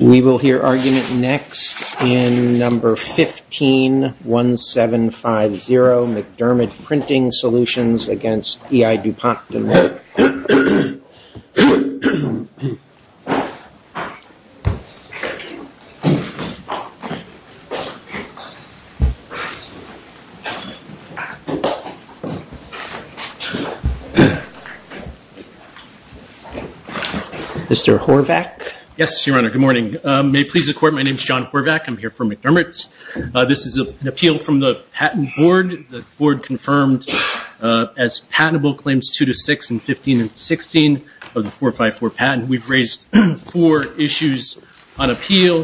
We will hear argument next in number 151750, McDermid Printing Solutions against E.I. DuPont Mr. Horvath? Yes, Your Honor. Good morning. May it please the Court, my name is John Horvath. I'm here for McDermid. This is an appeal from the Patent Board. The Board confirmed as patentable Claims 2 to 6 in 15 and 16 of the 454 patent. We've raised four issues on appeal.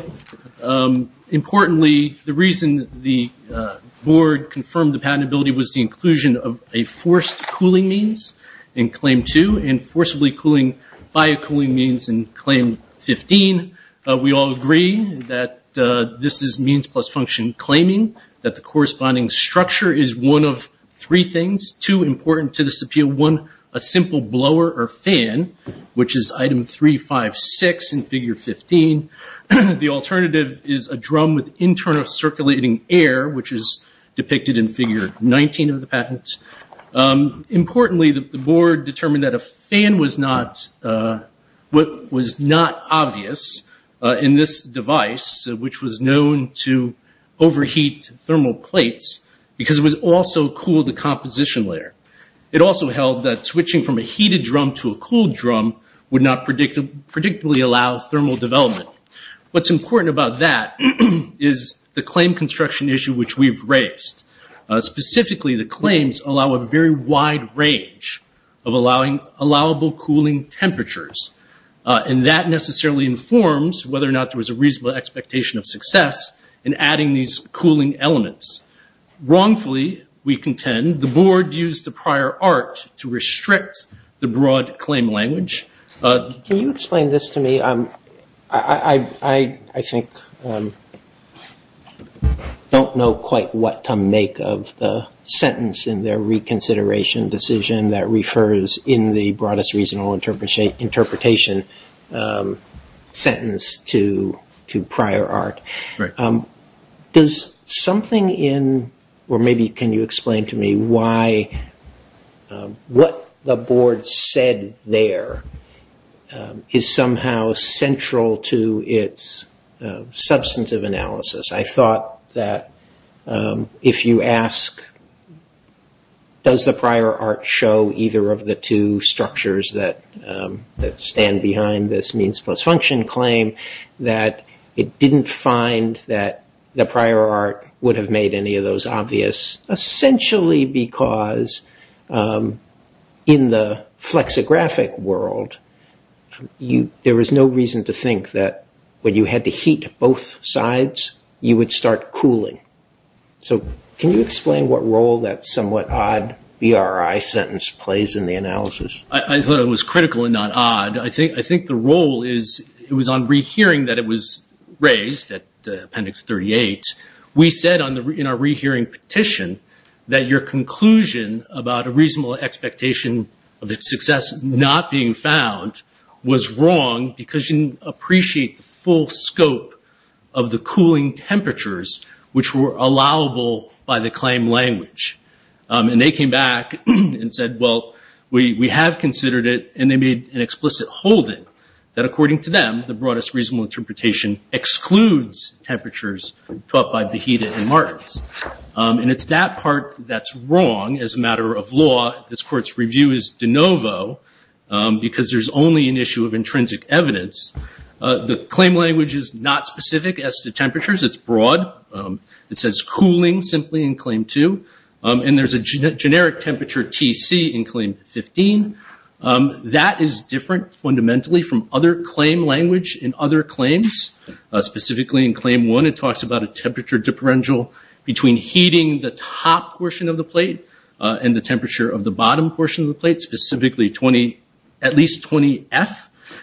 Importantly, the reason the Board confirmed the patentability was the inclusion of a forced cooling means in Claim 2 and forcibly cooling by a cooling means in Claim 15. We all agree that this is means plus function claiming that the corresponding structure is one of three things, two important to this appeal. One, a simple blower or fan, which is item 356 in Figure 15. The alternative is a drum with internal circulating air, which is depicted in Figure 19 of the patent. Importantly, the Board determined that a fan was not obvious in this device, which was known to overheat thermal plates, because it would also cool the composition layer. It also held that switching from a heated drum to a cooled drum would not predictably allow thermal development. What's important about that is the claim construction issue which we've raised. Specifically, the claims allow a very wide range of allowable cooling temperatures. That necessarily informs whether or not there was a reasonable expectation of success in adding these cooling elements. Wrongfully, we contend, the Board used the prior art to restrict the broad claim language. Can you explain this to me? I don't know quite what to make of the sentence in their reconsideration decision that refers in the broadest reasonable interpretation sentence to prior art. Can you explain to me why what the Board said there is somehow central to its substantive analysis? I thought that if you ask, does the prior art show either of the two structures that stand behind this means plus function claim, that it didn't find that the prior art would have made any of those obvious, essentially because in the flexographic world, there was no reason to think that when you had to heat both sides, you would start cooling. Can you explain what role that somewhat odd BRI sentence plays in the analysis? I thought it was critical and not odd. I think the role was on rehearing that it was raised at Appendix 38. We said in our rehearing petition that your conclusion about a reasonable expectation of its success not being found was wrong because you didn't appreciate the full scope of the cooling temperatures which were allowable by the claim language. And they came back and said, well, we have considered it, and they made an explicit holding that according to them, the broadest reasonable interpretation excludes temperatures taught by the claim language. The claim language is not specific as to temperatures. It's broad. It says cooling simply in Claim 2, and there's a generic temperature TC in Claim 15. That is different fundamentally from other claim language in other claims. Specifically in Claim 1, it talks about a temperature differential between heating the specifically at least 20F.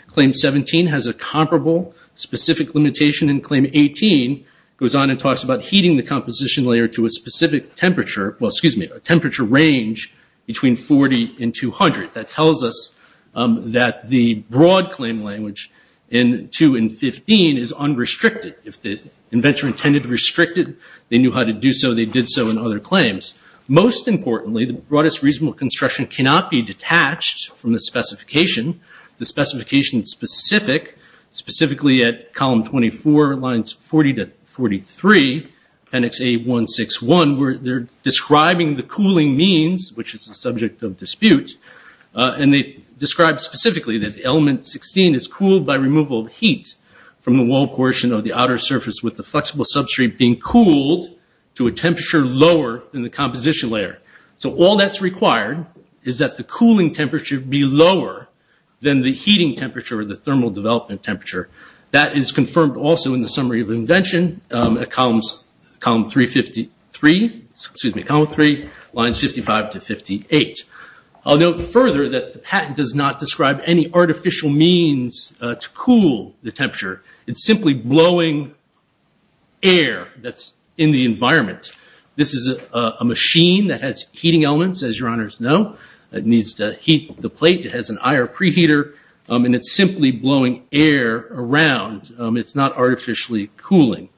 Claim 17 has a comparable specific limitation, and Claim 18 goes on and talks about heating the composition layer to a specific temperature, well, excuse me, a temperature range between 40 and 200. That tells us that the broad claim language in 2 and 15 is unrestricted. If the inventor intended to restrict it, they knew how to do so. They did so in other claims. Most importantly, the broadest reasonable construction cannot be detached from the specification. The specification is specific, specifically at Column 24, Lines 40 to 43, Appendix A161, where they're describing the cooling means, which is the subject of dispute, and they describe specifically that Element 16 is cooled by removal of heat from the wall portion of the outer surface with the flexible substrate being cooled to a temperature lower than the composition layer. All that's required is that the cooling temperature be lower than the heating temperature or the thermal development temperature. That is confirmed also in the summary of invention at Column 3, Lines 55 to 58. I'll note further that the patent does not describe any artificial means to cool the temperature. It's simply blowing air that's in the environment. This is a machine that has heating elements, as your honors know. It needs to heat the plate. It has an IR preheater, and it's simply blowing air around. It's not artificially cooling.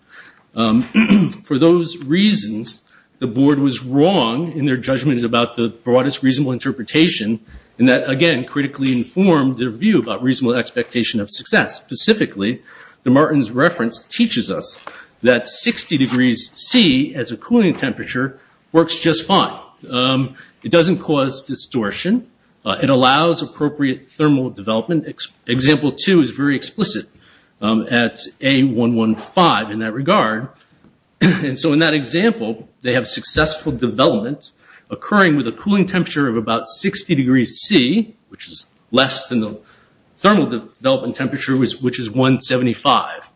For those reasons, the board was wrong in their judgment about the broadest reasonable interpretation, and that, again, critically informed their view about reasonable expectation of success. Specifically, the Martin's reference teaches us that 60 degrees C as a cooling temperature works just fine. It doesn't cause distortion. It allows appropriate thermal development. Example 2 is very explicit at A115 in that regard. In that example, they have successful development occurring with a cooling temperature of about 60 degrees C, which is less than the thermal development temperature, which is 175.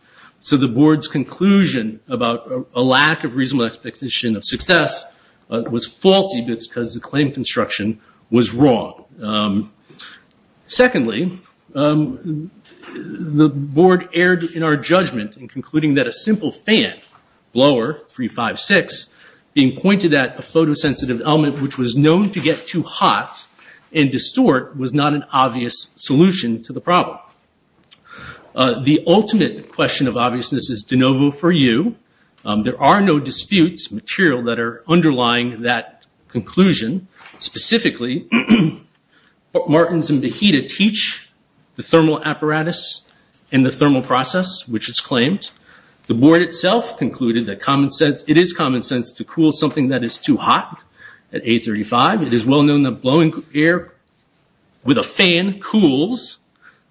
The board's conclusion about a lack of reasonable expectation of success was faulty because the claim construction was wrong. Secondly, the board erred in our judgment in concluding that a simple fan blower, 356, being pointed at a photosensitive element which was known to get too hot and distort was not an obvious solution to the problem. The ultimate question of obviousness is de novo for you. There are no disputes material that are underlying that conclusion. Specifically, Martin's and Behita teach the thermal apparatus and the thermal process, which is claimed. The board itself concluded that it is common sense to cool something that is too hot at A35. It is well known that blowing air with a fan cools.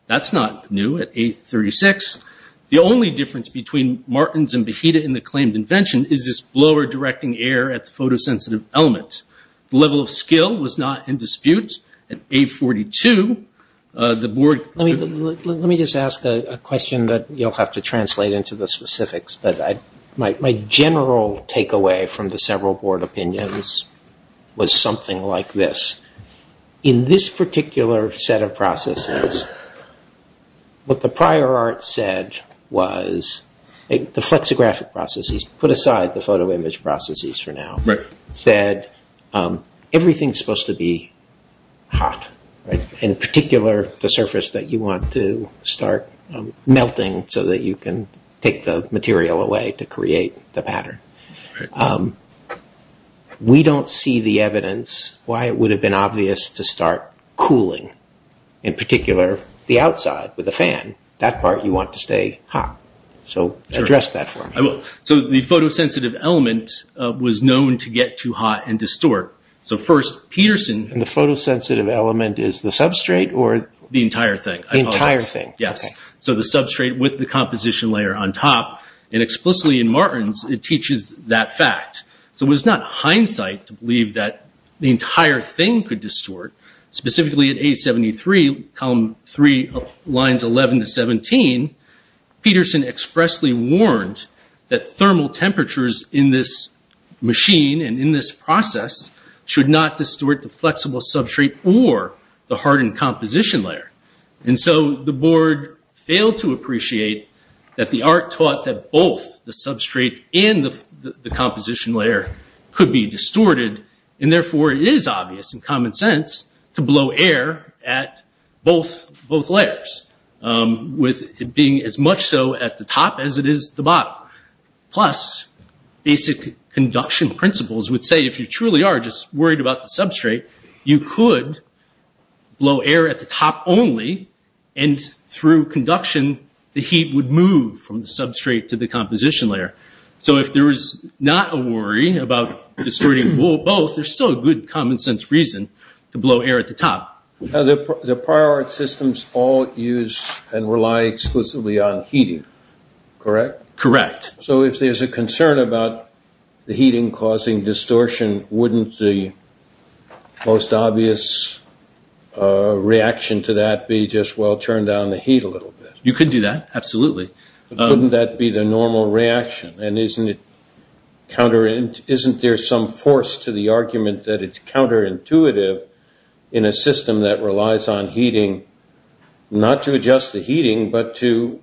That's not new at A36. The only difference between Martin's and Behita in the claimed invention is this blower directing air at the photosensitive element. The level of skill was not in dispute. At A42, the board... Let me just ask a question that you'll have to translate into the specifics. My general takeaway from the several board opinions was something like this. In this particular set of processes, what the prior art said was the flexographic processes, put aside the photo image processes for now, said everything's supposed to be hot, in particular, the surface that you want to cool. We don't see the evidence why it would have been obvious to start cooling, in particular, the outside with a fan. That part you want to stay hot. Address that for me. The photosensitive element was known to get too hot and distort. First, Peterson... The photosensitive element is the substrate or... The entire thing. The entire thing. Yes. The substrate with the composition layer on top. Explicitly, in Martin's, it teaches that fact. It was not hindsight to believe that the entire thing could distort. Specifically, at A73, column three, lines 11 to 17, Peterson expressly warned that thermal temperatures in this machine and in this process should not distort the flexible substrate or the hardened composition layer. The board failed to appreciate that the art taught that both the substrate and the composition layer could be distorted. Therefore, it is obvious and common sense to blow air at both layers, with it being as much so at the top as it is the bottom. Plus, basic conduction principles would say, if you truly are just worried about the substrate, you could blow air at the top only, and through conduction, the heat would move from the substrate to the composition layer. If there is not a worry about distorting both, there's still a good common sense reason to blow air at the top. The prior art systems all use and rely exclusively on heating, correct? Correct. So if there's a concern about the heating causing distortion, wouldn't the most obvious reaction to that be just, well, turn down the heat a little bit? You could do that, absolutely. But wouldn't that be the normal reaction? And isn't there some force to the argument that it's counterintuitive in a system that relies on heating, not to adjust the heating, but to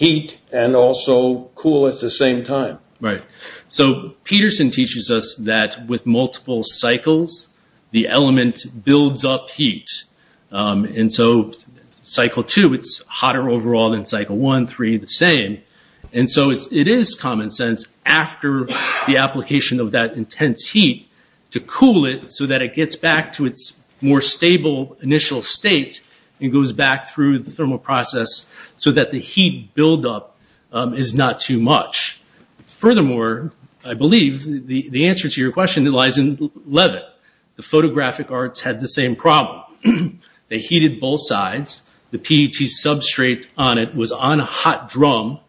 the same time? Right. So Peterson teaches us that with multiple cycles, the element builds up heat. And so cycle two, it's hotter overall than cycle one, three, the same. And so it is common sense after the application of that intense heat to cool it so that it gets back to its more stable initial state and goes back through the thermal process so that the heat buildup is not too much. Furthermore, I believe the answer to your question lies in Leavitt. The photographic arts had the same problem. They heated both sides. The PET substrate on it was on a hot drum.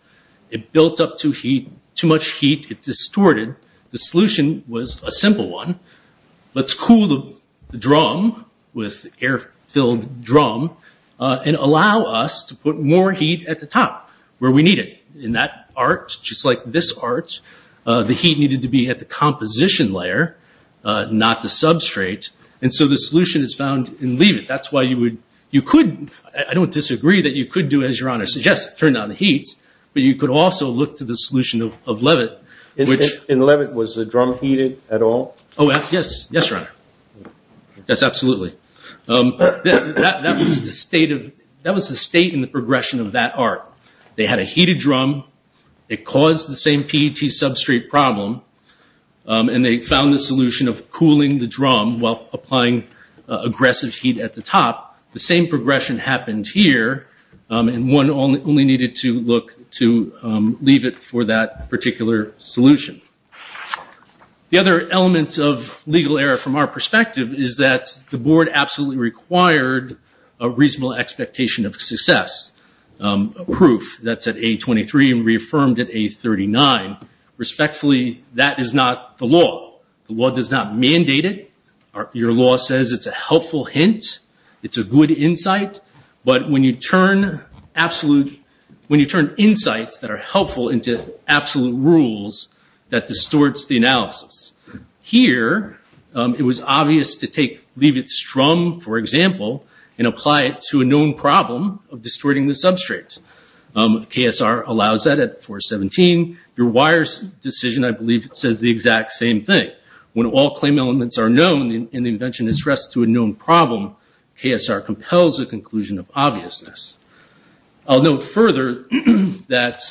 It built up too much heat. It distorted. The solution was a simple one. Let's cool the drum with air-filled drum and allow us to put more heat at the top. Where we need it. In that art, just like this art, the heat needed to be at the composition layer, not the substrate. And so the solution is found in Leavitt. That's why you would, you could, I don't disagree that you could do as your honor suggests, turn down the heat, but you could also look to the solution of Leavitt. And Leavitt, was the drum heated at all? Oh, yes. Yes, your honor. Yes, absolutely. That was the state of, that was the state and the progression of that art. They had a heated drum. It caused the same PET substrate problem. And they found the solution of cooling the drum while applying aggressive heat at the top. The same progression happened here. And one only needed to look to Leavitt for that particular solution. The other element of legal error from our perspective is that the board absolutely required a reasonable expectation of success. Proof that's at A23 and reaffirmed at A39. Respectfully, that is not the law. The law does not mandate it. Your law says it's a helpful hint. It's a good insight. But when you turn absolute, when you turn insights that are helpful into absolute rules, that distorts the analysis. Here, it was obvious to take Leavitt's drum, for example, and apply it to a known problem of distorting the substrate. KSR allows that at 417. Your wires decision, I believe, says the exact same thing. When all claim elements are known and the invention is stressed to a known problem, KSR compels a conclusion of obviousness. I'll note further that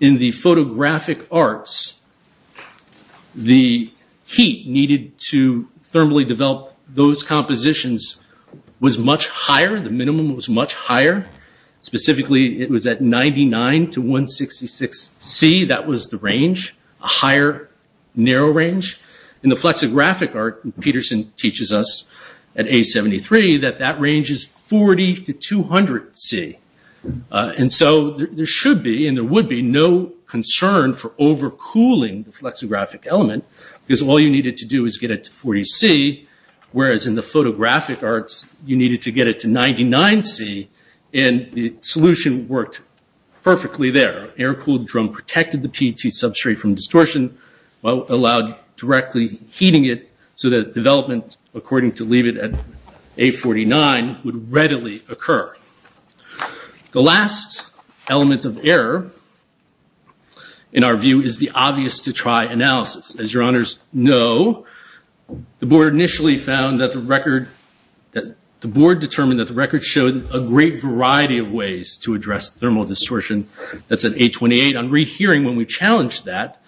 in the photographic arts, the heat needed to thermally develop those compositions was much higher. The minimum was much higher. Specifically, it was at 99 to 166 C. That was the range, a higher narrow range. In the flexographic art, Peterson teaches us at A73 that that range is 40 to 200 C. And so there should be, and there would be, no concern for overcooling the flexographic element, because all you needed to do is get it to 40 C, whereas in the photographic arts, you needed to get it to 99 C, and the solution worked perfectly there. Air-cooled drum protected the PET substrate from distortion, allowed directly heating it so that development, according to Leavitt at A49, would readily occur. The last element of error, in our view, is the obvious to try analysis. As your honors know, the board initially found that the record, that the board determined that the record showed a great variety of ways to address thermal distortion. That's at A28. On rehearing when we challenged that,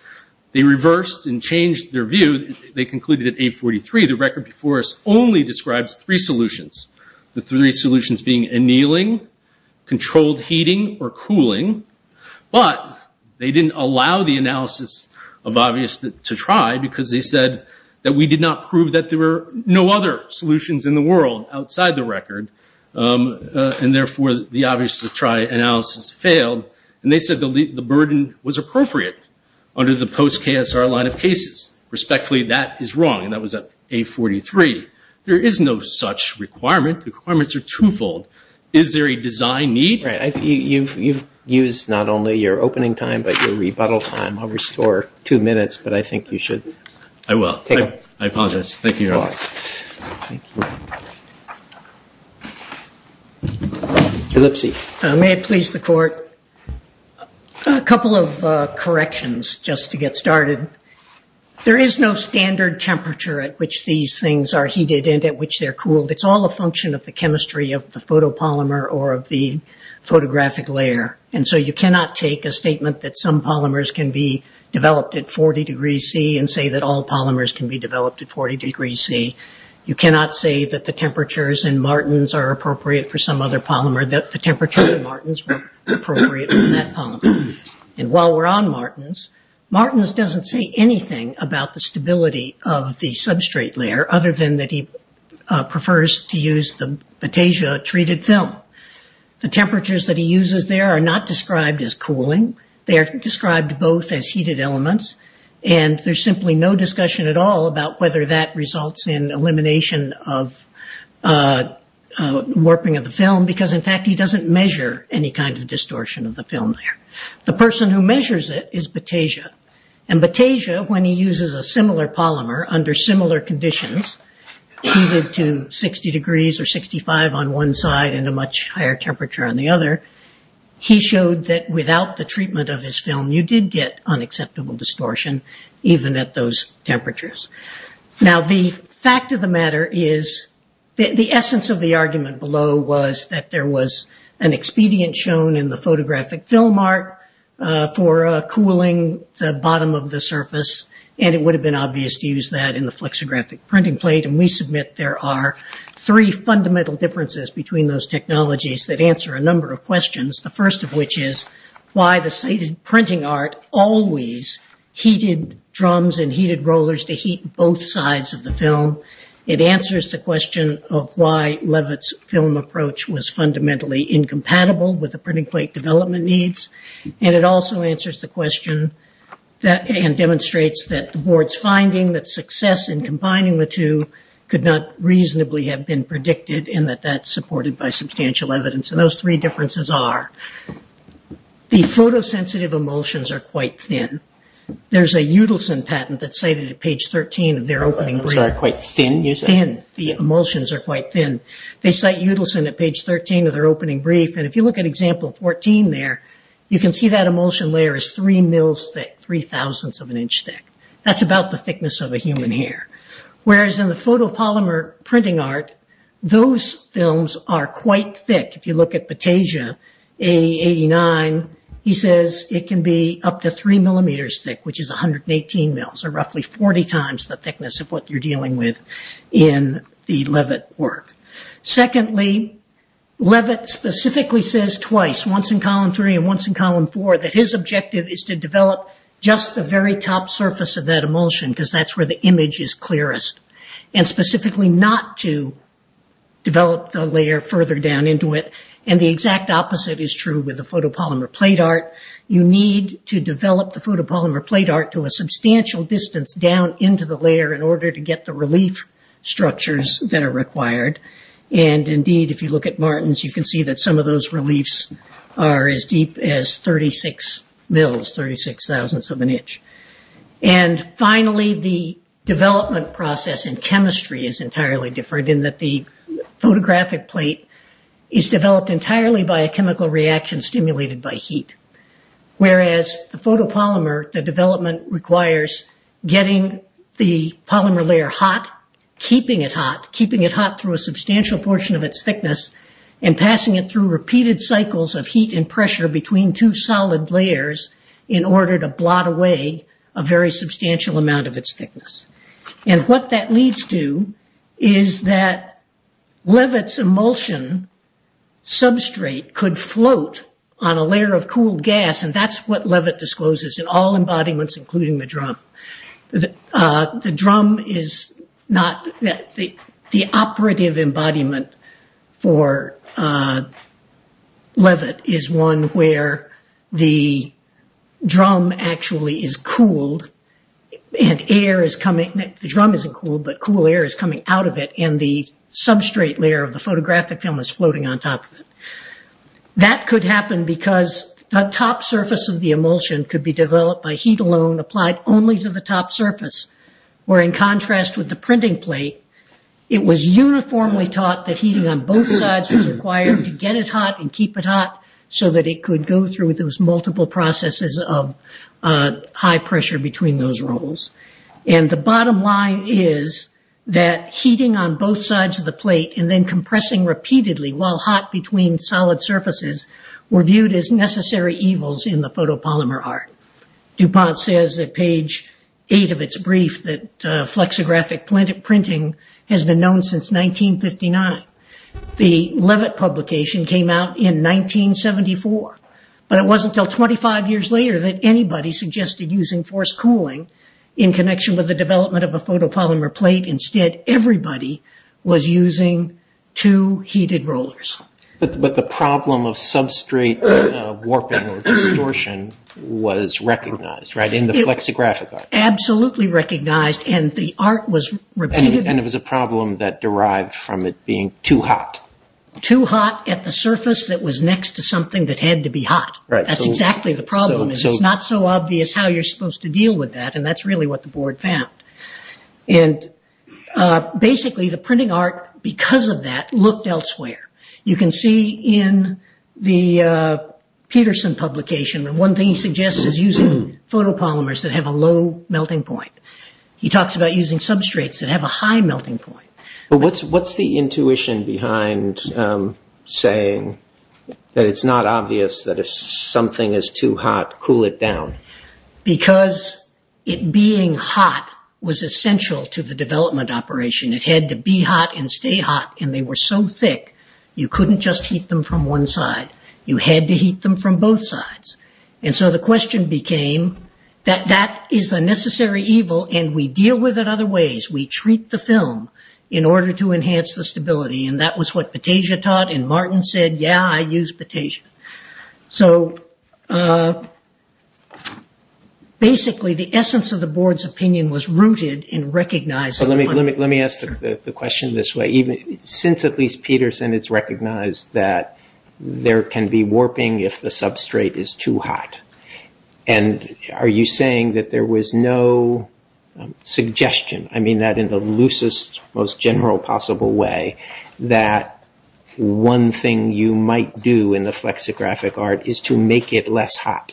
they reversed and changed their view. They concluded at A43, the record before us only describes three solutions. The three solutions being annealing, controlled heating, or cooling. But they didn't allow the analysis of obvious to try, because they said that we did not prove that there were no other solutions in the world outside the record. And therefore, the obvious to try analysis failed. And they said the burden was appropriate under the post-KSR line of cases. Respectfully, that is wrong, and that was at A43. There is no such requirement. Requirements are twofold. Is there a design need? Right. You've used not only your opening time, but your rebuttal time. I'll restore two minutes, but I think you should take them. I will. I apologize. Thank you, your honors. Tulipsy. May it please the court. A couple of corrections just to get started. There is no standard temperature at which these things are heated and at which they're cooled. It's all a function of the chemistry of the photopolymer or of the photographic layer. And so you cannot take a statement that some polymers can be developed at 40 degrees C and say that all polymers can be developed at 40 degrees C. You cannot say that the temperatures in Martins are appropriate for some other polymer, that the temperatures in Martins were appropriate for that polymer. And while we're on Martins, Martins doesn't say anything about the stability of the substrate layer, other than that he prefers to use the betasia treated film. The temperatures that he uses there are not described as cooling. They are described both as heated elements. And there's simply no discussion at all about whether that results in elimination of warping of the film because, in fact, he doesn't measure any kind of distortion of the film there. The person who measures it is betasia. And betasia, when he uses a similar polymer under similar conditions, heated to 60 degrees or 65 on one side and a much higher temperature on the other, he showed that without the treatment of his film, you did get unacceptable distortion even at those temperatures. Now, the fact of the matter is the essence of the argument below was that there was an expedient shown in the photographic film art for cooling the bottom of the surface, and it would have been obvious to use that in the flexographic printing plate. And we submit there are three fundamental differences between those technologies that answer a number of questions. The first of which is why the printing art always heated drums and heated rollers to heat both sides of the film. It answers the question of why Leavitt's film approach was fundamentally incompatible with the printing plate development needs. And it also answers the question and demonstrates that the board's finding that success in combining the two could not reasonably have been predicted and that that's supported by substantial evidence. And those three differences are the photosensitive emulsions are quite thin. There's a Udelson patent that's stated at page 13 of their opening. Which are quite thin, you said? Thin. The emulsions are quite thin. They cite Udelson at page 13 of their opening brief. And if you look at example 14 there, you can see that emulsion layer is three mils thick, three thousandths of an inch thick. That's about the thickness of a human hair. Whereas in the photopolymer printing art, those films are quite thick. If you look at Patasia, A89, he says it can be up to three millimeters thick, which is in the Leavitt work. Secondly, Leavitt specifically says twice, once in column three and once in column four, that his objective is to develop just the very top surface of that emulsion because that's where the image is clearest. And specifically not to develop the layer further down into it. And the exact opposite is true with the photopolymer plate art. You need to develop the photopolymer plate art to a substantial distance down into the relief structures that are required. And indeed, if you look at Martin's, you can see that some of those reliefs are as deep as 36 mils, 36 thousandths of an inch. And finally, the development process in chemistry is entirely different in that the photographic plate is developed entirely by a chemical reaction stimulated by heat. Whereas the photopolymer, the development requires getting the polymer layer hot, keeping it hot, keeping it hot through a substantial portion of its thickness and passing it through repeated cycles of heat and pressure between two solid layers in order to blot away a very substantial amount of its thickness. And what that leads to is that Leavitt's emulsion substrate could float on a layer of cooled gas. And that's what Leavitt discloses in all embodiments, including the drum. The drum is not the operative embodiment for Leavitt is one where the drum actually is cooled and air is coming, the drum isn't cooled, but cool air is coming out of it and the substrate layer of the photographic film is floating on top of it. That could happen because the top surface of the emulsion could be developed by heat alone applied only to the top surface. Where in contrast with the printing plate, it was uniformly taught that heating on both sides was required to get it hot and keep it hot so that it could go through those multiple processes of high pressure between those rolls. And the bottom line is that heating on both sides of the plate and then compressing repeatedly while hot between solid surfaces were viewed as necessary evils in the photopolymer art. DuPont says at page eight of its brief that flexographic printing has been known since 1959. The Leavitt publication came out in 1974, but it wasn't until 25 years later that anybody suggested using forced cooling in connection with the development of a photopolymer plate. Instead, everybody was using two heated rollers. But the problem of substrate warping or distortion was recognized, right? In the flexographic art. Absolutely recognized and the art was repeated. And it was a problem that derived from it being too hot. Too hot at the surface that was next to something that had to be hot. That's exactly the problem. It's not so obvious how you're supposed to deal with that. And that's really what the board found. And basically, the printing art, because of that, looked elsewhere. You can see in the Peterson publication. One thing he suggests is using photopolymers that have a low melting point. He talks about using substrates that have a high melting point. But what's the intuition behind saying that it's not obvious that if something is too hot, cool it down? Because it being hot was essential to the development operation. It had to be hot and stay hot. And they were so thick, you couldn't just heat them from one side. You had to heat them from both sides. And so the question became that that is a necessary evil and we deal with it other ways. We treat the film in order to enhance the stability. And that was what Patasia taught. And Martin said, yeah, I use Patasia. So basically, the essence of the board's opinion was rooted in recognizing. Let me ask the question this way. Since at least Peterson, it's recognized that there can be warping if the substrate is too hot. And are you saying that there was no suggestion? I mean, that in the loosest, most general possible way, that one thing you might do in the flexographic art is to make it less hot.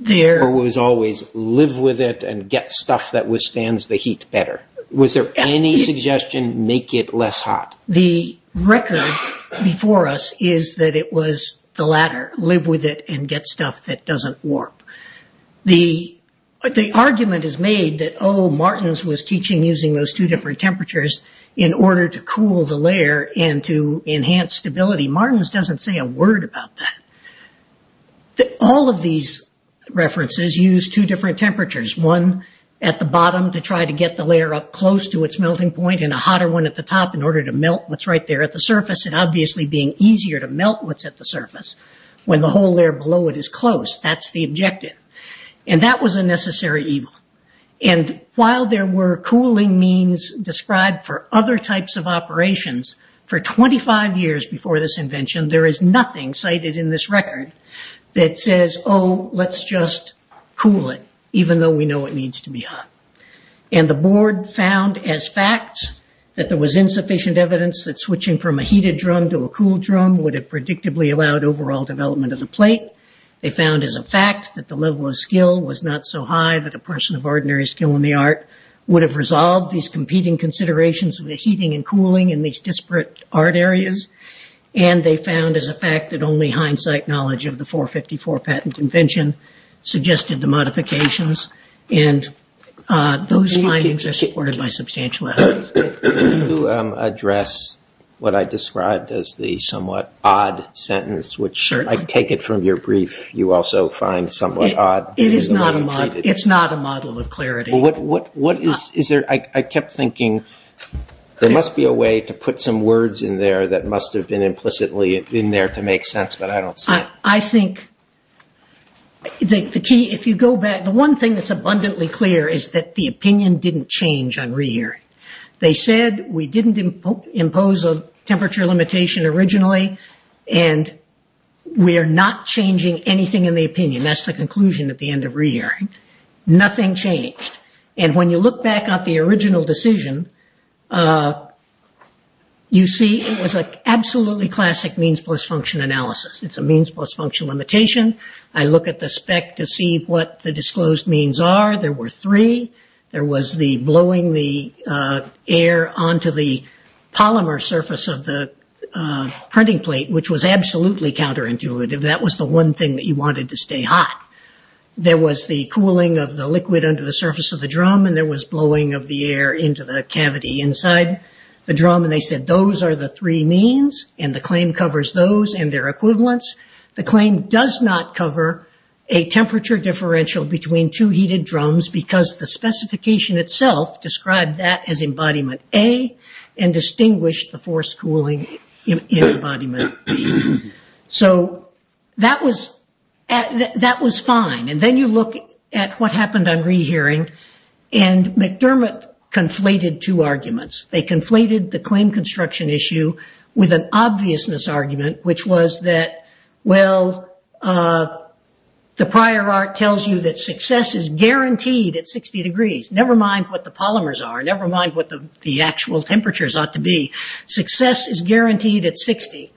There was always live with it and get stuff that withstands the heat better. Was there any suggestion make it less hot? The record before us is that it was the latter, live with it and get stuff that doesn't warp. The argument is made that, oh, Martins was teaching using those two different temperatures in order to cool the layer and to enhance stability. Martins doesn't say a word about that. All of these references use two different temperatures, one at the bottom to try to get the layer up close to its melting point and a hotter one at the top in order to melt what's right there at the surface and obviously being easier to melt what's at the surface when the whole layer below it is close. That's the objective. That was a necessary evil. While there were cooling means described for other types of operations, for 25 years before this invention, there is nothing cited in this record that says, oh, let's just cool it even though we know it needs to be hot. The board found as fact that there was insufficient evidence that switching from a heated drum to a cooled drum would have predictably allowed overall development of the plate. They found as a fact that the level of skill was not so high that a person of ordinary skill in the art would have resolved these competing considerations of the heating and cooling in these disparate art areas. They found as a fact that only hindsight knowledge of the 454 patent convention suggested the modifications and those findings are supported by substantial evidence. Can you address what I described as the somewhat odd sentence, which I take it from your brief, you also find somewhat odd? It is not a model. It's not a model of clarity. I kept thinking there must be a way to put some words in there that must have been implicitly in there to make sense, but I don't see it. I think the key, if you go back, the one thing that's abundantly clear is that the opinion didn't change on rehearing. They said we didn't impose a temperature limitation originally and we are not changing anything in the opinion. That's the conclusion at the end of rehearing. Nothing changed. And when you look back at the original decision, you see it was an absolutely classic means plus function analysis. It's a means plus function limitation. I look at the spec to see what the disclosed means are. There were three. There was the blowing the air onto the polymer surface of the printing plate, which was absolutely counterintuitive. That was the one thing that you wanted to stay hot. There was the cooling of the liquid under the surface of the drum and there was blowing of the air into the cavity inside the drum. They said those are the three means and the claim covers those and their equivalents. The claim does not cover a temperature differential between two heated drums because the specification itself described that as embodiment A and distinguished the forced cooling in embodiment B. So that was fine. Then you look at what happened on rehearing and McDermott conflated two arguments. They conflated the claim construction issue with an obviousness argument, which was that well, the prior art tells you that success is guaranteed at 60 degrees. Never mind what the polymers are. Never mind what the actual temperatures ought to be. Success is guaranteed at 60.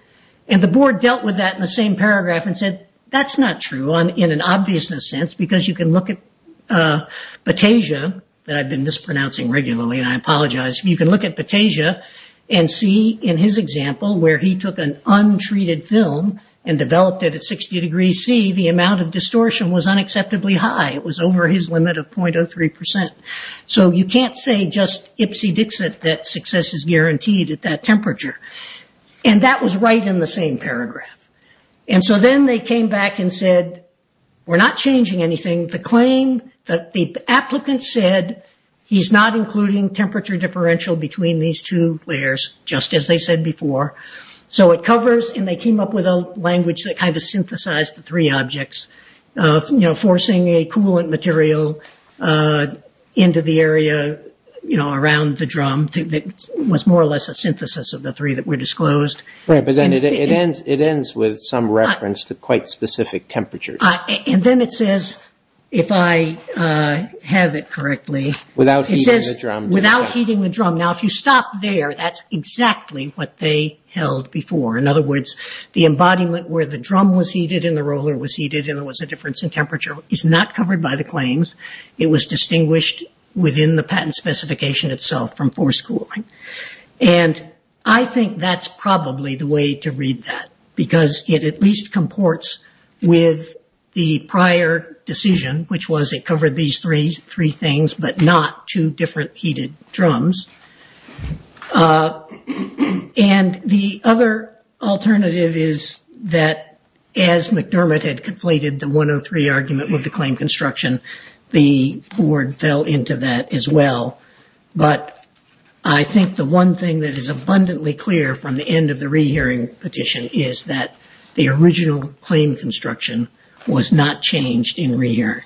And the board dealt with that in the same paragraph and said that's not true in an obviousness sense because you can look at Batesia that I've been mispronouncing regularly and I apologize. You can look at Batesia and see in his example where he took an untreated film and developed it at 60 degrees C, the amount of distortion was unacceptably high. It was over his limit of 0.03%. So you can't say just ipsy-dixit that success is guaranteed at that temperature. And that was right in the same paragraph. So then they came back and said we're not changing anything. The claim that the applicant said he's not including temperature differential between these two layers, just as they said before. So it covers, and they came up with a language that kind of synthesized the three objects, forcing a coolant material into the area around the drum that was more or less a synthesis of the three that were disclosed. Right, but then it ends with some reference to quite specific temperatures. And then it says, if I have it correctly. Without heating the drum. Without heating the drum. Now if you stop there, that's exactly what they held before. In other words, the embodiment where the drum was heated and the roller was heated and there was a difference in temperature is not covered by the claims. It was distinguished within the patent specification itself from forced cooling. And I think that's probably the way to read that because it at least comports with the prior decision, which was it covered these three things, but not two different heated drums. And the other alternative is that as McDermott had completed the 103 argument with the claim construction, the board fell into that as well. But I think the one thing that is abundantly clear from the end of the rehearing petition is that the original claim construction was not changed in re-hearing.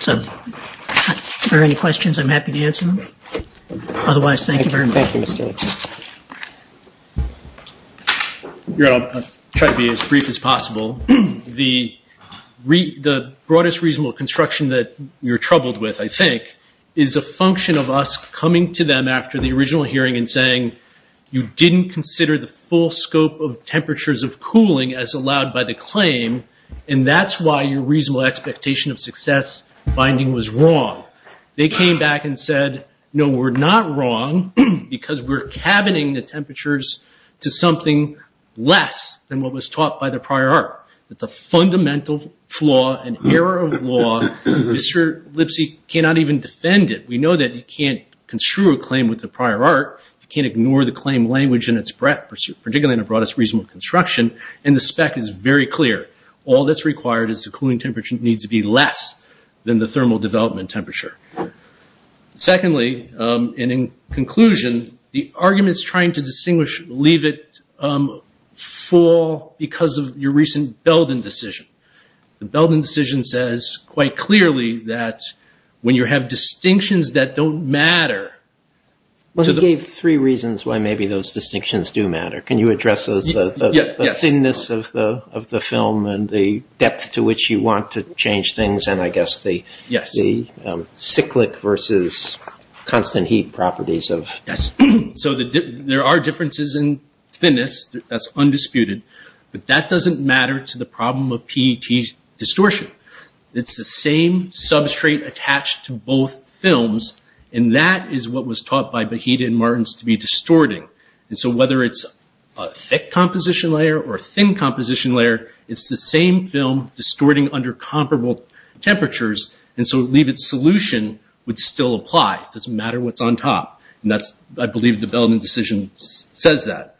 So are there any questions? I'm happy to answer them. Otherwise, thank you very much. Thank you, Mr. Lipschitz. I'll try to be as brief as possible. The broadest reasonable construction that you're troubled with, I think, is a function of us coming to them after the original hearing and saying, you didn't consider the full scope of temperatures of cooling as allowed by the claim, and that's why your reasonable expectation of success finding was wrong. They came back and said, no, we're not wrong because we're cabining the temperatures to something less than what was taught by the prior art. It's a fundamental flaw, an error of law. Mr. Lipschitz cannot even defend it. We know that you can't construe a claim with the prior art. You can't ignore the claim language in its breadth, particularly in the broadest reasonable construction, and the spec is very clear. All that's required is the cooling temperature needs to be less than the thermal development temperature. Secondly, and in conclusion, the arguments trying to distinguish leave it full because of your recent Belden decision. The Belden decision says quite clearly that when you have distinctions that don't matter to the- Well, you gave three reasons why maybe those distinctions do matter. Can you address the thinness of the film and the depth to which you want to change things, and I guess the cyclic versus constant heat properties of- Yes, so there are differences in thinness that's undisputed, but that doesn't matter to the problem of PET distortion. It's the same substrate attached to both films, and that is what was taught by Behita and Martens to be distorting. Whether it's a thick composition layer or a thin composition layer, it's the same film distorting under comparable temperatures, and so leave it solution would still apply. It doesn't matter what's on top, and I believe the Belden decision says that.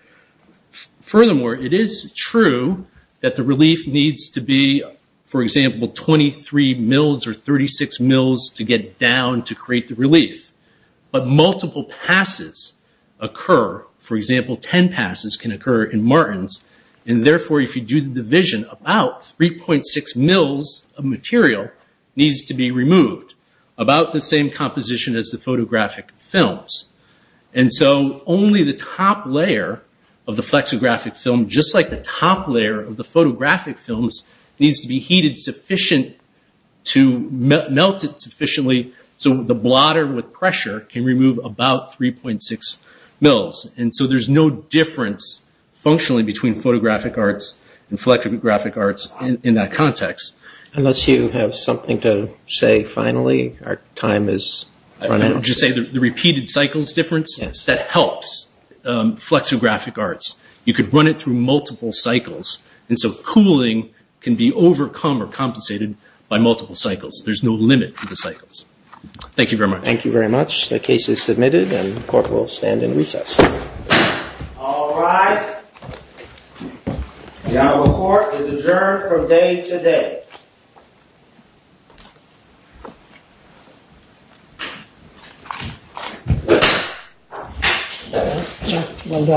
Furthermore, it is true that the relief needs to be, for example, 23 mils or 36 mils to get down to create the relief, but multiple passes occur. For example, 10 passes can occur in Martens, and therefore, if you do the division, about 3.6 mils of material needs to be removed, about the same composition as the photographic And so only the top layer of the flexographic film, just like the top layer of the photographic films, needs to be heated sufficient to melt it sufficiently so the blotter with pressure can remove about 3.6 mils, and so there's no difference functionally between photographic arts and flexographic arts in that context. Unless you have something to say finally, our time is running out. The repeated cycles difference, that helps flexographic arts. You could run it through multiple cycles, and so cooling can be overcome or compensated by multiple cycles. There's no limit to the cycles. Thank you very much. Thank you very much. The case is submitted, and the court will stand in recess. All rise. The Honorable Court is adjourned from day to day.